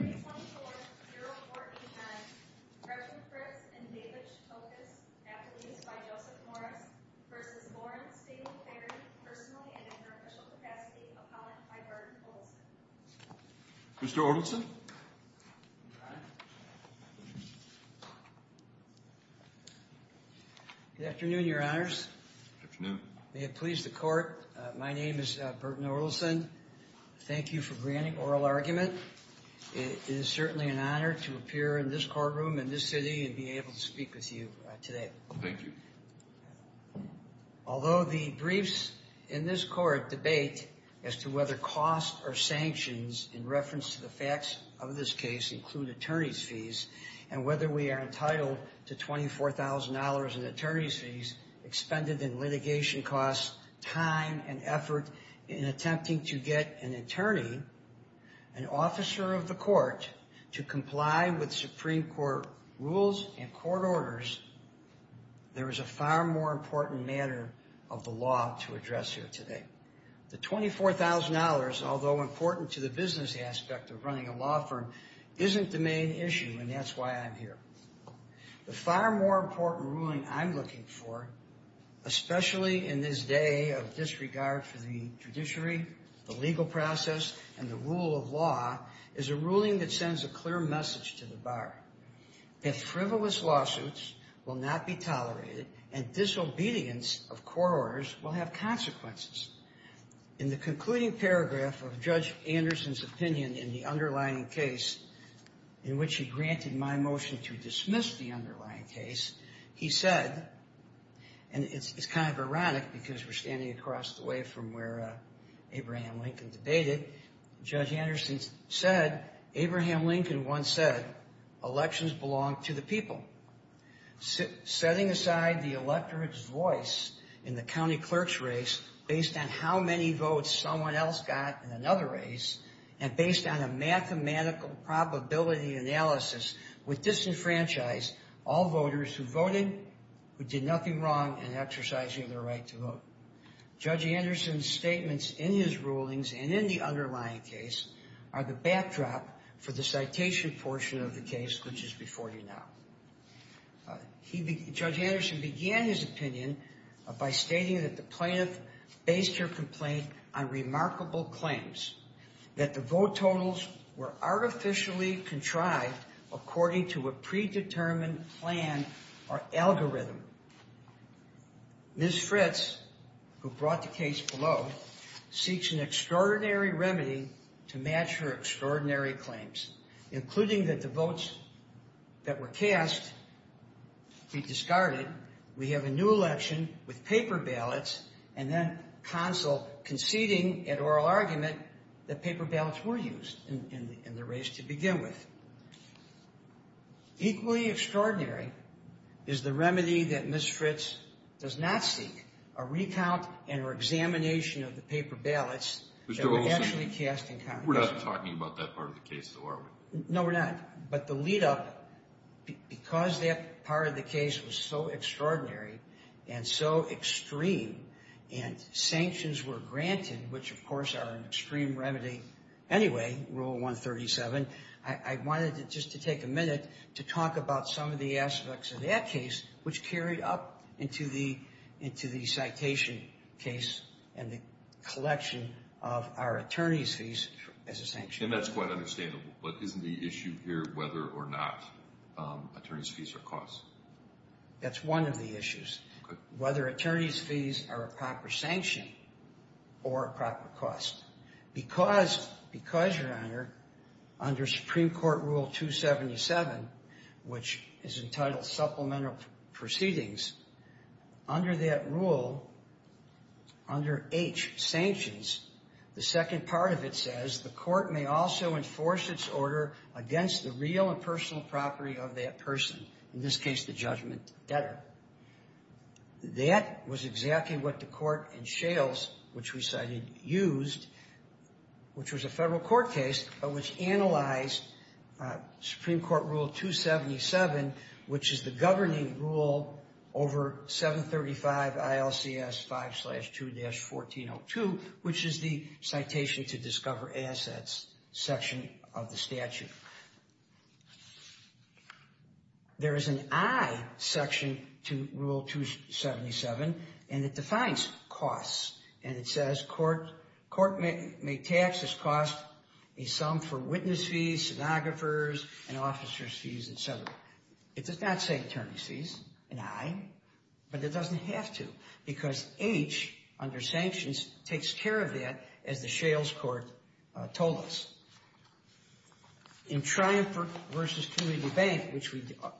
324-0409, President Fritz and David Stokes, athletes by Joseph Morris, v. Lawrence v. Ferry, personal and in their official capacity, appellant by Burton Orelson. It is certainly an honor to appear in this courtroom in this city and be able to speak with you today. Thank you. Although the briefs in this court debate as to whether costs or sanctions in reference to the facts of this case include attorney's fees, and whether we are entitled to $24,000 in attorney's fees expended in litigation costs, time and effort in attempting to get an attorney, an officer of the court, to comply with Supreme Court rules and court orders, there is a far more important matter of the law to address here today. The $24,000, although important to the business aspect of running a law firm, isn't the main issue, and that's why I'm here. The far more important ruling I'm looking for, especially in this day of disregard for the judiciary, the legal process, and the rule of law, is a ruling that sends a clear message to the bar. If frivolous lawsuits will not be tolerated and disobedience of court orders will have consequences. In the concluding paragraph of Judge Anderson's opinion in the underlying case in which he granted my motion to dismiss the underlying case, he said, and it's kind of ironic because we're standing across the way from where Abraham Lincoln debated. Judge Anderson said, Abraham Lincoln once said, elections belong to the people. Setting aside the electorate's voice in the county clerk's race based on how many votes someone else got in another race, and based on a mathematical probability analysis would disenfranchise all voters who voted, who did nothing wrong in exercising their right to vote. Judge Anderson's statements in his rulings and in the underlying case are the backdrop for the citation portion of the case, which is before you now. Judge Anderson began his opinion by stating that the plaintiff based her complaint on remarkable claims, that the vote totals were artificially contrived according to a predetermined plan or algorithm. Ms. Fritz, who brought the case below, seeks an extraordinary remedy to match her extraordinary claims, including that the votes that were cast be discarded, we have a new election with paper ballots, and then counsel conceding an oral argument that paper ballots were used in the race to begin with. Equally extraordinary is the remedy that Ms. Fritz does not seek, a recount and her examination of the paper ballots that were actually cast in Congress. We're not talking about that part of the case though, are we? No, we're not. But the lead up, because that part of the case was so extraordinary and so extreme, and sanctions were granted, which of course are an extreme remedy anyway, Rule 137, I wanted just to take a minute to talk about some of the aspects of that case, which carried up into the citation case and the collection of our attorney's fees as a sanction. And that's quite understandable, but isn't the issue here whether or not attorney's fees are costs? That's one of the issues, whether attorney's fees are a proper sanction or a proper cost. Because, Your Honor, under Supreme Court Rule 277, which is entitled Supplemental Proceedings, under that rule, under H, sanctions, the second part of it says, the court may also enforce its order against the real and personal property of that person, in this case the judgment debtor. That was exactly what the court in Shales, which we cited, used, which was a federal court case, but which analyzed Supreme Court Rule 277, which is the governing rule over 735 ILCS 5-2-1402, which is the Citation to Discover Assets section of the statute. There is an I section to Rule 277, and it defines costs, and it says, court may tax this cost a sum for witness fees, stenographers, and officer's fees, etc. It does not say attorney's fees, an I, but it doesn't have to, because H, under sanctions, takes care of that, as the Shales court told us. In Triumph v. Kennedy Bank,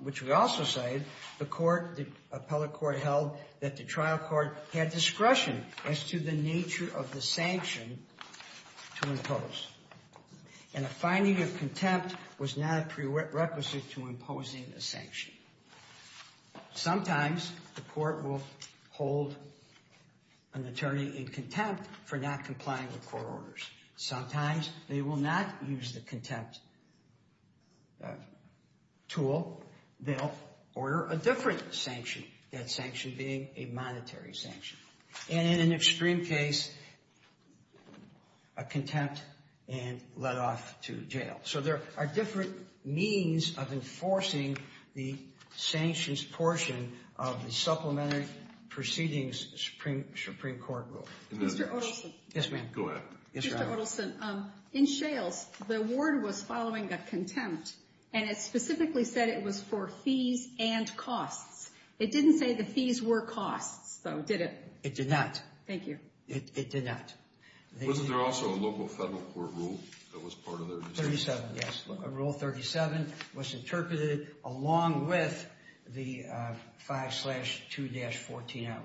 which we also cited, the court, the appellate court, held that the trial court had discretion as to the nature of the sanction to impose, and a finding of contempt was not a prerequisite to imposing a sanction. Sometimes the court will hold an attorney in contempt for not complying with court orders. Sometimes they will not use the contempt tool. They'll order a different sanction, that sanction being a monetary sanction, and in an extreme case, a contempt and let off to jail. So there are different means of enforcing the sanctions portion of the Supplementary Proceedings Supreme Court Rule. Mr. Odelson. Yes, ma'am. Go ahead. Mr. Odelson, in Shales, the ward was following a contempt, and it specifically said it was for fees and costs. It didn't say the fees were costs, though, did it? It did not. Thank you. It did not. Wasn't there also a local federal court rule that was part of their decision? 37, yes. Rule 37 was interpreted along with the 5-2-14-02,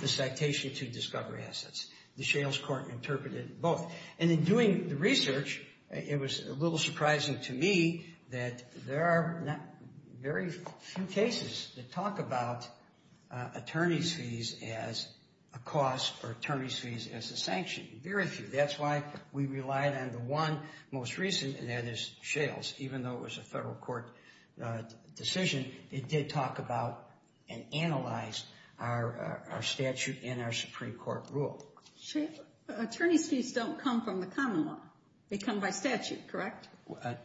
the citation to discovery assets. The Shales court interpreted both. And in doing the research, it was a little surprising to me that there are very few cases that talk about attorney's fees as a cost or attorney's fees as a sanction, very few. That's why we relied on the one most recent, and that is Shales. Even though it was a federal court decision, it did talk about and analyze our statute and our Supreme Court rule. Attorney's fees don't come from the common law. They come by statute, correct?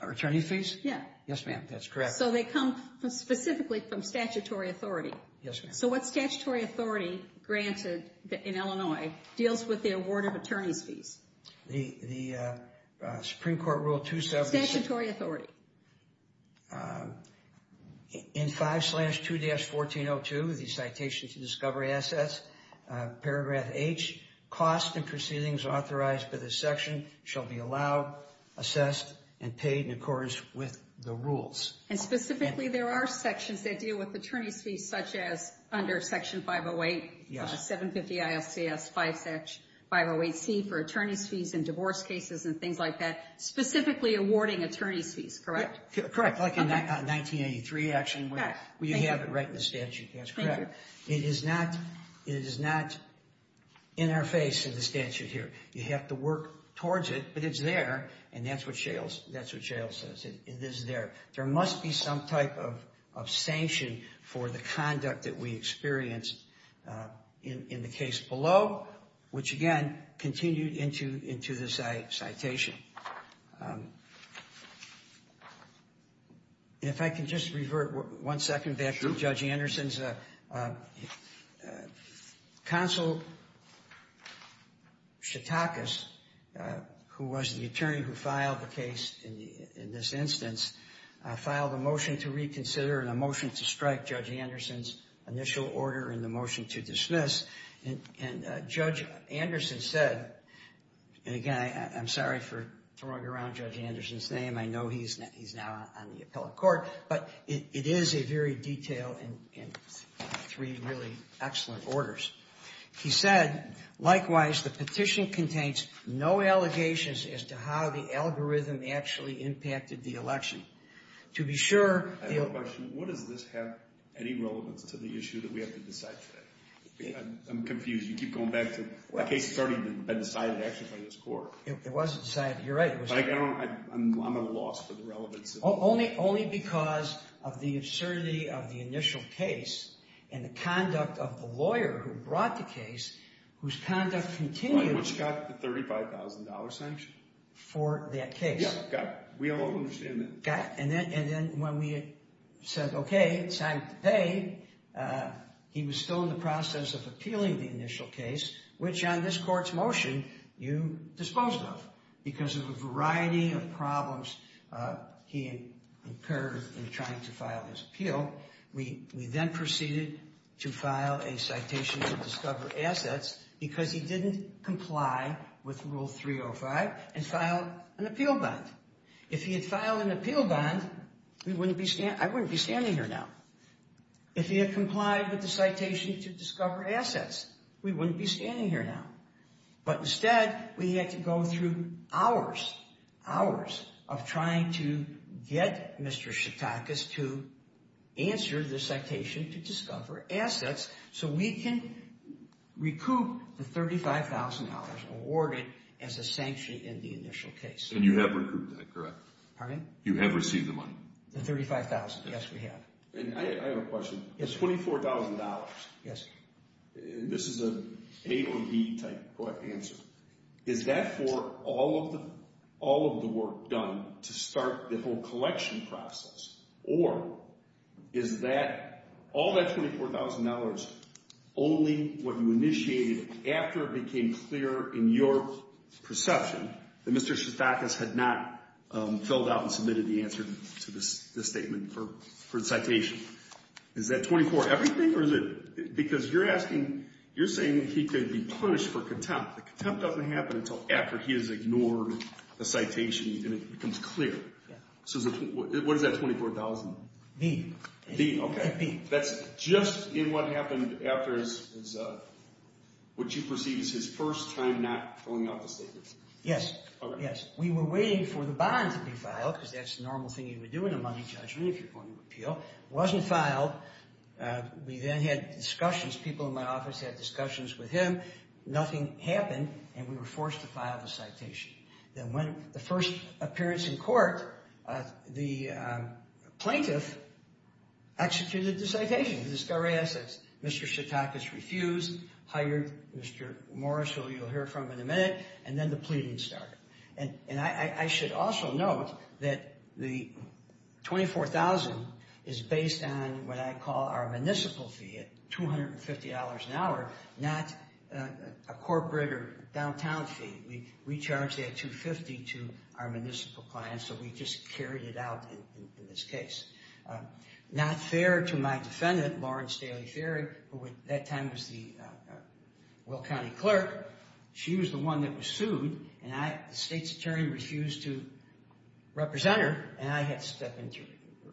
Attorney's fees? Yes. Yes, ma'am, that's correct. So they come specifically from statutory authority. Yes, ma'am. So what statutory authority granted in Illinois deals with the award of attorney's fees? The Supreme Court rule 276. Statutory authority. In 5-2-14-02, the citation to discovery assets, paragraph H, costs and proceedings authorized by this section shall be allowed, assessed, and paid in accordance with the rules. And specifically, there are sections that deal with attorney's fees, such as under Section 508, 750-ISCS-508C for attorney's fees in divorce cases and things like that, specifically awarding attorney's fees, correct? Correct, like in 1983, actually, where you have it right in the statute. That's correct. It is not in our face in the statute here. You have to work towards it, but it's there, and that's what Shales says. It is there. There must be some type of sanction for the conduct that we experience in the case below, which, again, continued into the citation. If I can just revert one second back to Judge Anderson's counsel, Shatakis, who was the attorney who filed the case in this instance, filed a motion to reconsider and a motion to strike Judge Anderson's initial order and the motion to dismiss. And Judge Anderson said, and again, I'm sorry for throwing around Judge Anderson's name. I know he's now on the appellate court. But it is a very detailed and three really excellent orders. He said, likewise, the petition contains no allegations as to how the algorithm actually impacted the election. I have a question. What does this have any relevance to the issue that we have to decide today? I'm confused. You keep going back to the case that's already been decided actually by this court. It wasn't decided. You're right. I'm at a loss for the relevance. Only because of the absurdity of the initial case and the conduct of the lawyer who brought the case, whose conduct continued. Which got the $35,000 sanction. For that case. Yeah, got it. We all understand that. Got it. And then when we said, okay, signed today, he was still in the process of appealing the initial case, which on this court's motion you disposed of because of a variety of problems he incurred in trying to file his appeal. We then proceeded to file a citation to discover assets because he didn't comply with Rule 305 and filed an appeal bond. If he had filed an appeal bond, I wouldn't be standing here now. If he had complied with the citation to discover assets, we wouldn't be standing here now. But instead, we had to go through hours, hours of trying to get Mr. Shatakis to answer the citation to discover assets so we can recoup the $35,000 awarded as a sanction in the initial case. And you have recouped that, correct? Pardon? You have received the money? The $35,000. Yes, we have. I have a question. It's $24,000. Yes. This is an A or B type answer. Is that for all of the work done to start the whole collection process? Or is all that $24,000 only what you initiated after it became clear in your perception that Mr. Shatakis had not filled out and submitted the answer to the statement for the citation? Is that $24,000 everything? Because you're asking, you're saying he could be punished for contempt. The contempt doesn't happen until after he has ignored the citation and it becomes clear. So what is that $24,000? B. B, okay. That's just in what happened after his, what you perceive as his first time not filling out the statement? Yes. Yes. We were waiting for the bond to be filed because that's the normal thing you would do in a judgment if you're going to appeal. It wasn't filed. We then had discussions. People in my office had discussions with him. Nothing happened, and we were forced to file the citation. Then when the first appearance in court, the plaintiff executed the citation. The discovery assets. Mr. Shatakis refused, hired Mr. Morris, who you'll hear from in a minute, and then the pleading started. I should also note that the $24,000 is based on what I call our municipal fee at $250 an hour, not a corporate or downtown fee. We charge that $250 to our municipal clients, so we just carried it out in this case. Not fair to my defendant, Lauren Staley Ferry, who at that time was the Will County clerk. She was the one that was sued, and the state's attorney refused to represent her, and I had to step in to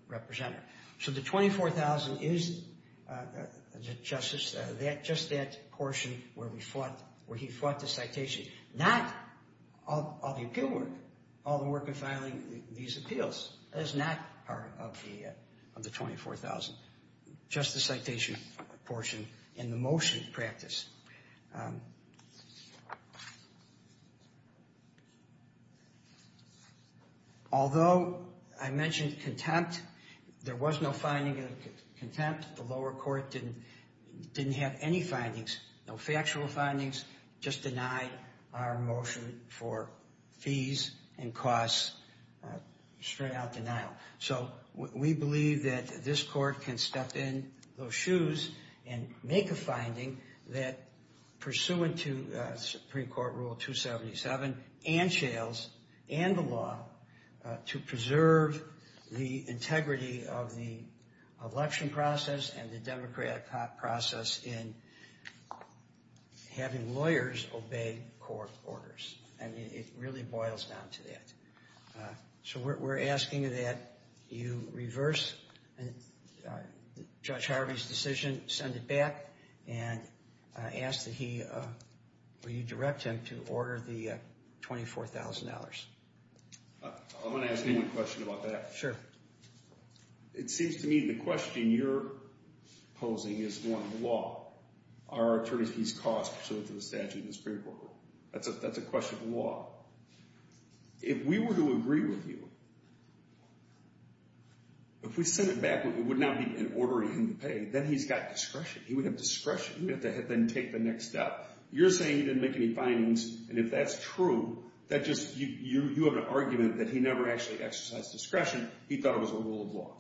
represent her. So the $24,000 is, Justice, just that portion where he fought the citation. Not all the appeal work, all the work of filing these appeals. That is not part of the $24,000. Just the citation portion and the motion practice. Although I mentioned contempt, there was no finding of contempt. The lower court didn't have any findings, no factual findings. Just denied our motion for fees and costs, straight out denial. So we believe that this court can step in those shoes and make a finding that, pursuant to Supreme Court Rule 277 and Shales and the law, to preserve the integrity of the election process and the democratic process in having lawyers obey court orders. And it really boils down to that. So we're asking that you reverse Judge Harvey's decision, send it back, and ask that he, will you direct him to order the $24,000? I want to ask you one question about that. Sure. It seems to me the question you're posing is one of law. Are attorneys fees cost, pursuant to the statute of the Supreme Court? That's a question of law. If we were to agree with you, if we sent it back and it would not be in order for him to pay, then he's got discretion. He would have discretion. He would have to then take the next step. You're saying he didn't make any findings, and if that's true, that just, you have an argument that he never actually exercised discretion. He thought it was a rule of law.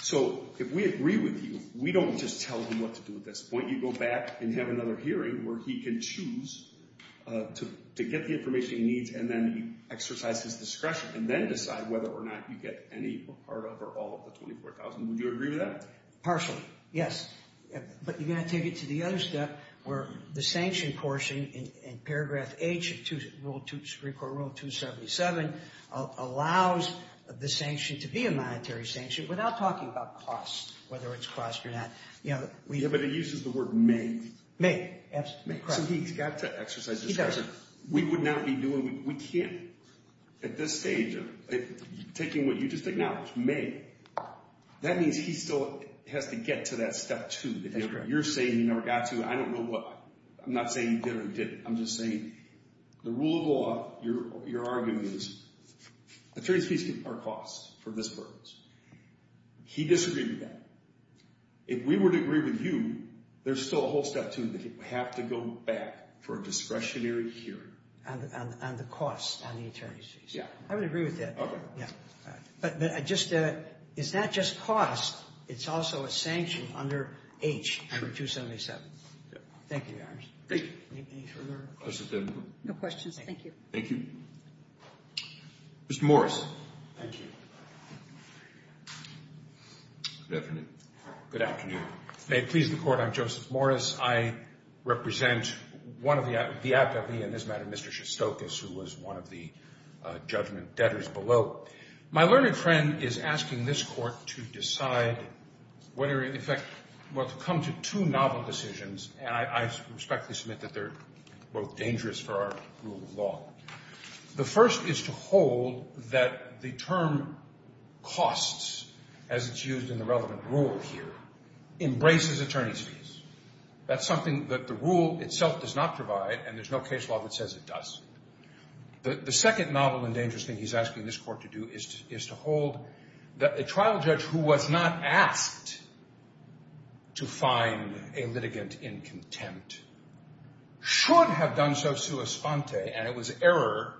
So if we agree with you, we don't just tell him what to do at this point. You go back and have another hearing where he can choose to get the information he needs and then exercise his discretion and then decide whether or not you get any part of or all of the $24,000. Would you agree with that? Partially, yes. But you've got to take it to the other step where the sanction portion in paragraph H of Supreme Court Rule 277 allows the sanction to be a monetary sanction without talking about cost, whether it's cost or not. Yeah, but it uses the word may. May. So he's got to exercise discretion. We would not be doing, we can't at this stage of taking what you just acknowledged, may. That means he still has to get to that step two. That's correct. You're saying he never got to it. I don't know what. I'm not saying he did or he didn't. I'm just saying the rule of law, your argument is attorneys fees are cost for this purpose. He disagreed with that. If we were to agree with you, there's still a whole step to it. We have to go back for a discretionary hearing. And the cost on the attorneys fees. Yeah. I would agree with that. Okay. But just, it's not just cost. It's also a sanction under H, number 277. Thank you, Your Honors. Thank you. Any further questions? No questions. Thank you. Thank you. Mr. Morris. Thank you. Good afternoon. Good afternoon. May it please the Court, I'm Joseph Morris. I represent one of the, in this matter, Mr. Shostokos, who was one of the judgment debtors below. My learned friend is asking this Court to decide whether, in fact, to come to two novel decisions. And I respectfully submit that they're both dangerous for our rule of law. The first is to hold that the term costs, as it's used in the relevant rule here, embraces attorneys fees. That's something that the rule itself does not provide, and there's no case law that says it does. The second novel and dangerous thing he's asking this Court to do is to hold that a trial judge who was not asked to find a litigant in contempt should have done so sua sponte, and it was error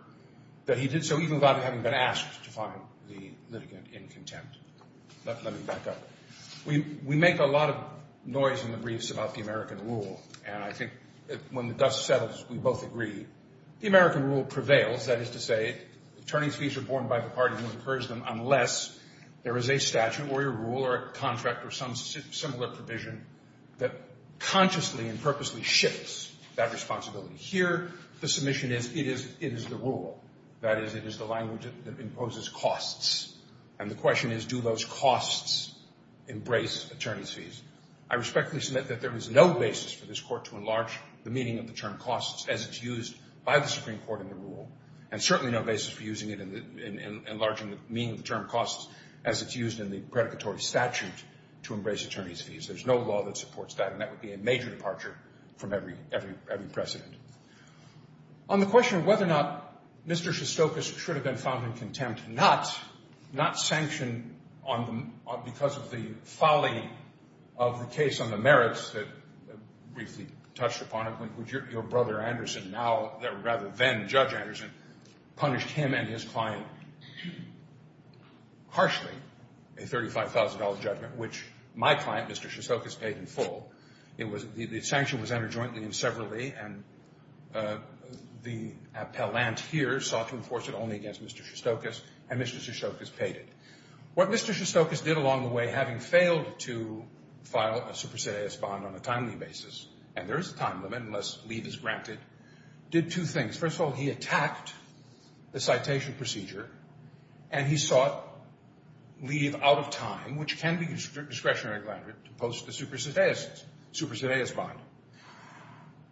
that he did so even without having been asked to find the litigant in contempt. Let me back up. We make a lot of noise in the briefs about the American rule, and I think when the dust settles, we both agree. The American rule prevails. That is to say, attorneys fees are borne by the party who incurs them unless there is a statute or a rule or a contract or some similar provision that consciously and purposely shifts that responsibility. Here, the submission is it is the rule. That is, it is the language that imposes costs, and the question is do those costs embrace attorneys fees. I respectfully submit that there is no basis for this Court to enlarge the meaning of the term costs as it's used by the Supreme Court in the rule and certainly no basis for using it in enlarging the meaning of the term costs as it's used in the predicatory statute to embrace attorneys fees. There's no law that supports that, and that would be a major departure from every precedent. On the question of whether or not Mr. Shostokos should have been found in contempt, not sanctioned because of the folly of the case on the merits that briefly touched upon, when your brother, Anderson, now rather then Judge Anderson, punished him and his client harshly, a $35,000 judgment which my client, Mr. Shostokos, paid in full. The sanction was entered jointly and severally, and the appellant here sought to enforce it only against Mr. Shostokos, and Mr. Shostokos paid it. What Mr. Shostokos did along the way, having failed to file a supersedeus bond on a timely basis, and there is a time limit unless leave is granted, did two things. First of all, he attacked the citation procedure, and he sought leave out of time, which can be discretionary to post the supersedeus bond.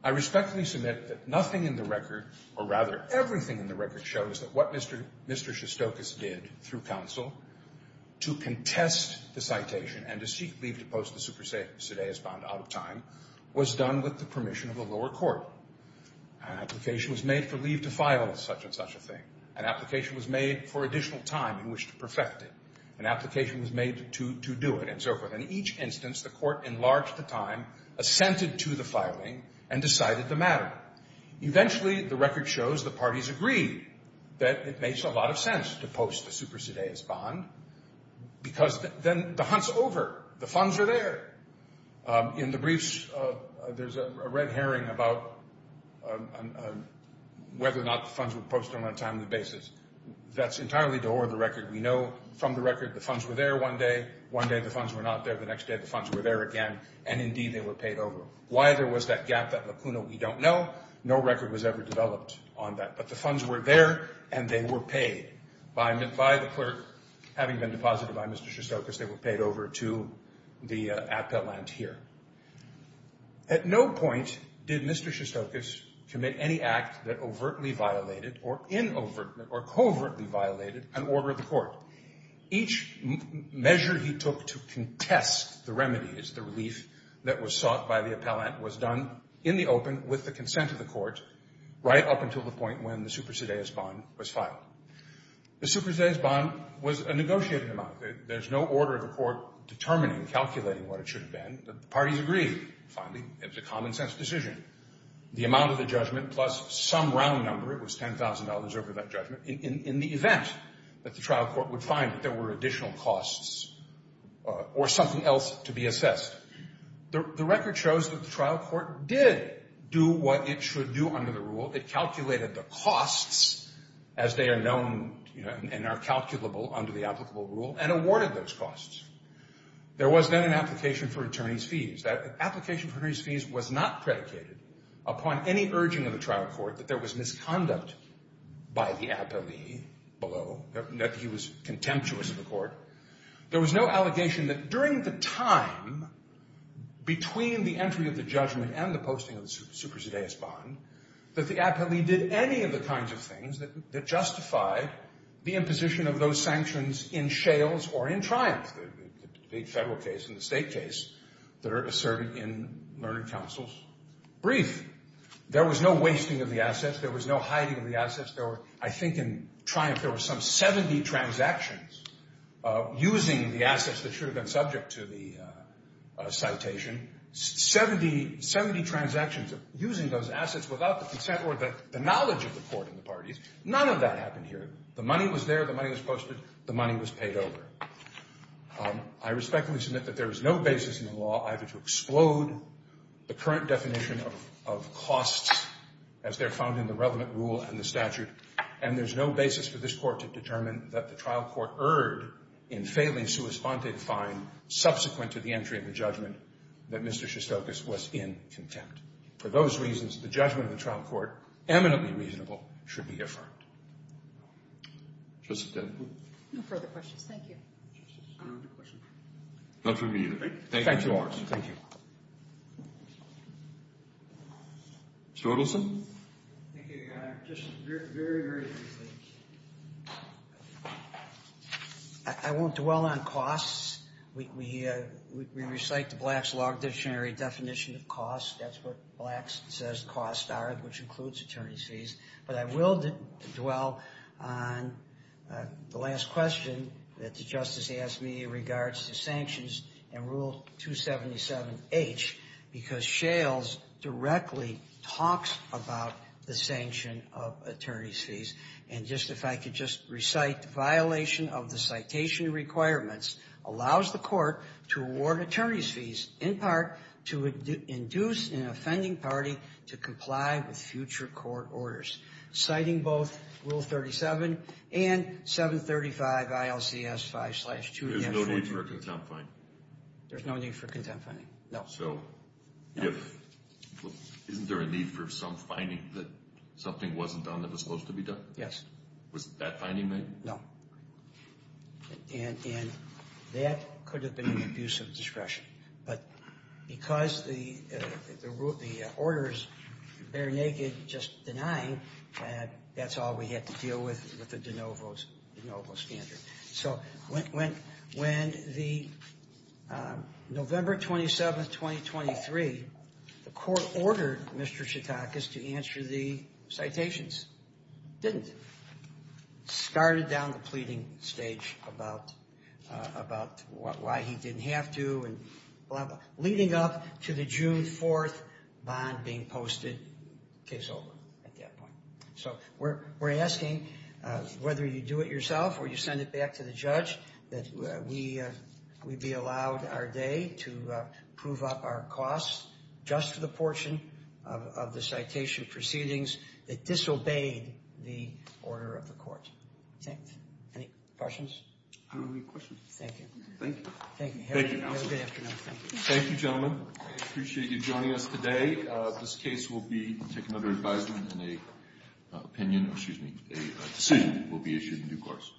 I respectfully submit that nothing in the record, or rather everything in the record, shows that what Mr. Shostokos did through counsel to contest the citation and to seek leave to post the supersedeus bond out of time was done with the permission of the lower court. An application was made for leave to file such and such a thing. An application was made for additional time in which to perfect it. An application was made to do it, and so forth. In each instance, the court enlarged the time, assented to the filing, and decided the matter. Eventually, the record shows the parties agreed that it makes a lot of sense to post the supersedeus bond because then the hunt's over. The funds are there. In the briefs, there's a red herring about whether or not the funds were posted on a timely basis. That's entirely to order the record. We know from the record the funds were there one day, one day the funds were not there, the next day the funds were there again, and indeed they were paid over. Why there was that gap, that lacuna, we don't know. No record was ever developed on that. But the funds were there, and they were paid by the clerk. Having been deposited by Mr. Shostokos, they were paid over to the appellant here. At no point did Mr. Shostokos commit any act that overtly violated or covertly violated an order of the court. Each measure he took to contest the remedies, the relief that was sought by the appellant, was done in the open with the consent of the court right up until the point when the supersedeus bond was filed. The supersedeus bond was a negotiated amount. There's no order of the court determining, calculating what it should have been. The parties agreed. Finally, it was a common-sense decision. The amount of the judgment plus some round number, it was $10,000 over that judgment, in the event that the trial court would find that there were additional costs or something else to be assessed. The record shows that the trial court did do what it should do under the rule. It calculated the costs, as they are known and are calculable under the applicable rule, and awarded those costs. There was then an application for attorney's fees. That application for attorney's fees was not predicated upon any urging of the trial court that there was misconduct by the appellee below, that he was contemptuous of the court. There was no allegation that during the time between the entry of the judgment and the posting of the supersedeus bond that the appellee did any of the kinds of things that justified the imposition of those sanctions in Shales or in Triumph, the big federal case and the state case that are asserted in Learned Counsel's brief. There was no wasting of the assets. There was no hiding of the assets. I think in Triumph there were some 70 transactions using the assets that should have been subject to the citation. 70 transactions using those assets without the consent or the knowledge of the court and the parties. None of that happened here. The money was there. The money was posted. The money was paid over. I respectfully submit that there is no basis in the law either to explode the current definition of costs, as they're found in the relevant rule and the statute, and there's no basis for this court to determine that the trial court erred in failing subsequent to the entry of the judgment that Mr. Shostokos was in contempt. For those reasons, the judgment of the trial court, eminently reasonable, should be affirmed. Justice Kennedy? No further questions. Thank you. Justice, do you have a question? Not for me either. Thank you. Thank you. Mr. Ortleson? Thank you. Just very, very briefly. I won't dwell on costs. We recite the Black's Log Dictionary definition of costs. That's what Black says costs are, which includes attorney's fees. But I will dwell on the last question that the Justice asked me in regards to sanctions and Rule 277H, because Shales directly talks about the sanction of attorney's fees and just, if I could just recite, violation of the citation requirements allows the court to award attorney's fees, in part to induce an offending party to comply with future court orders, citing both Rule 37 and 735 ILCS 5-2. There's no need for a contempt fine. There's no need for contempt fining. No. So isn't there a need for some fining that something wasn't done that was supposed to be done? Yes. Was that fining made? No. And that could have been an abuse of discretion. But because the orders, they're naked, just denying, that's all we had to deal with with the de novo standard. So when the November 27th, 2023, the court ordered Mr. Chautakis to answer the citations, didn't, started down the pleading stage about why he didn't have to, leading up to the June 4th bond being posted, case over at that point. So we're asking, whether you do it yourself or you send it back to the judge, that we be allowed our day to prove up our costs just for the portion of the citation proceedings that disobeyed the order of the court. Thanks. Any questions? I don't have any questions. Thank you. Thank you. Thank you, counsel. Have a good afternoon. Thank you, gentlemen. I appreciate you joining us today. This case will be taken under advisement and a decision will be issued in due course.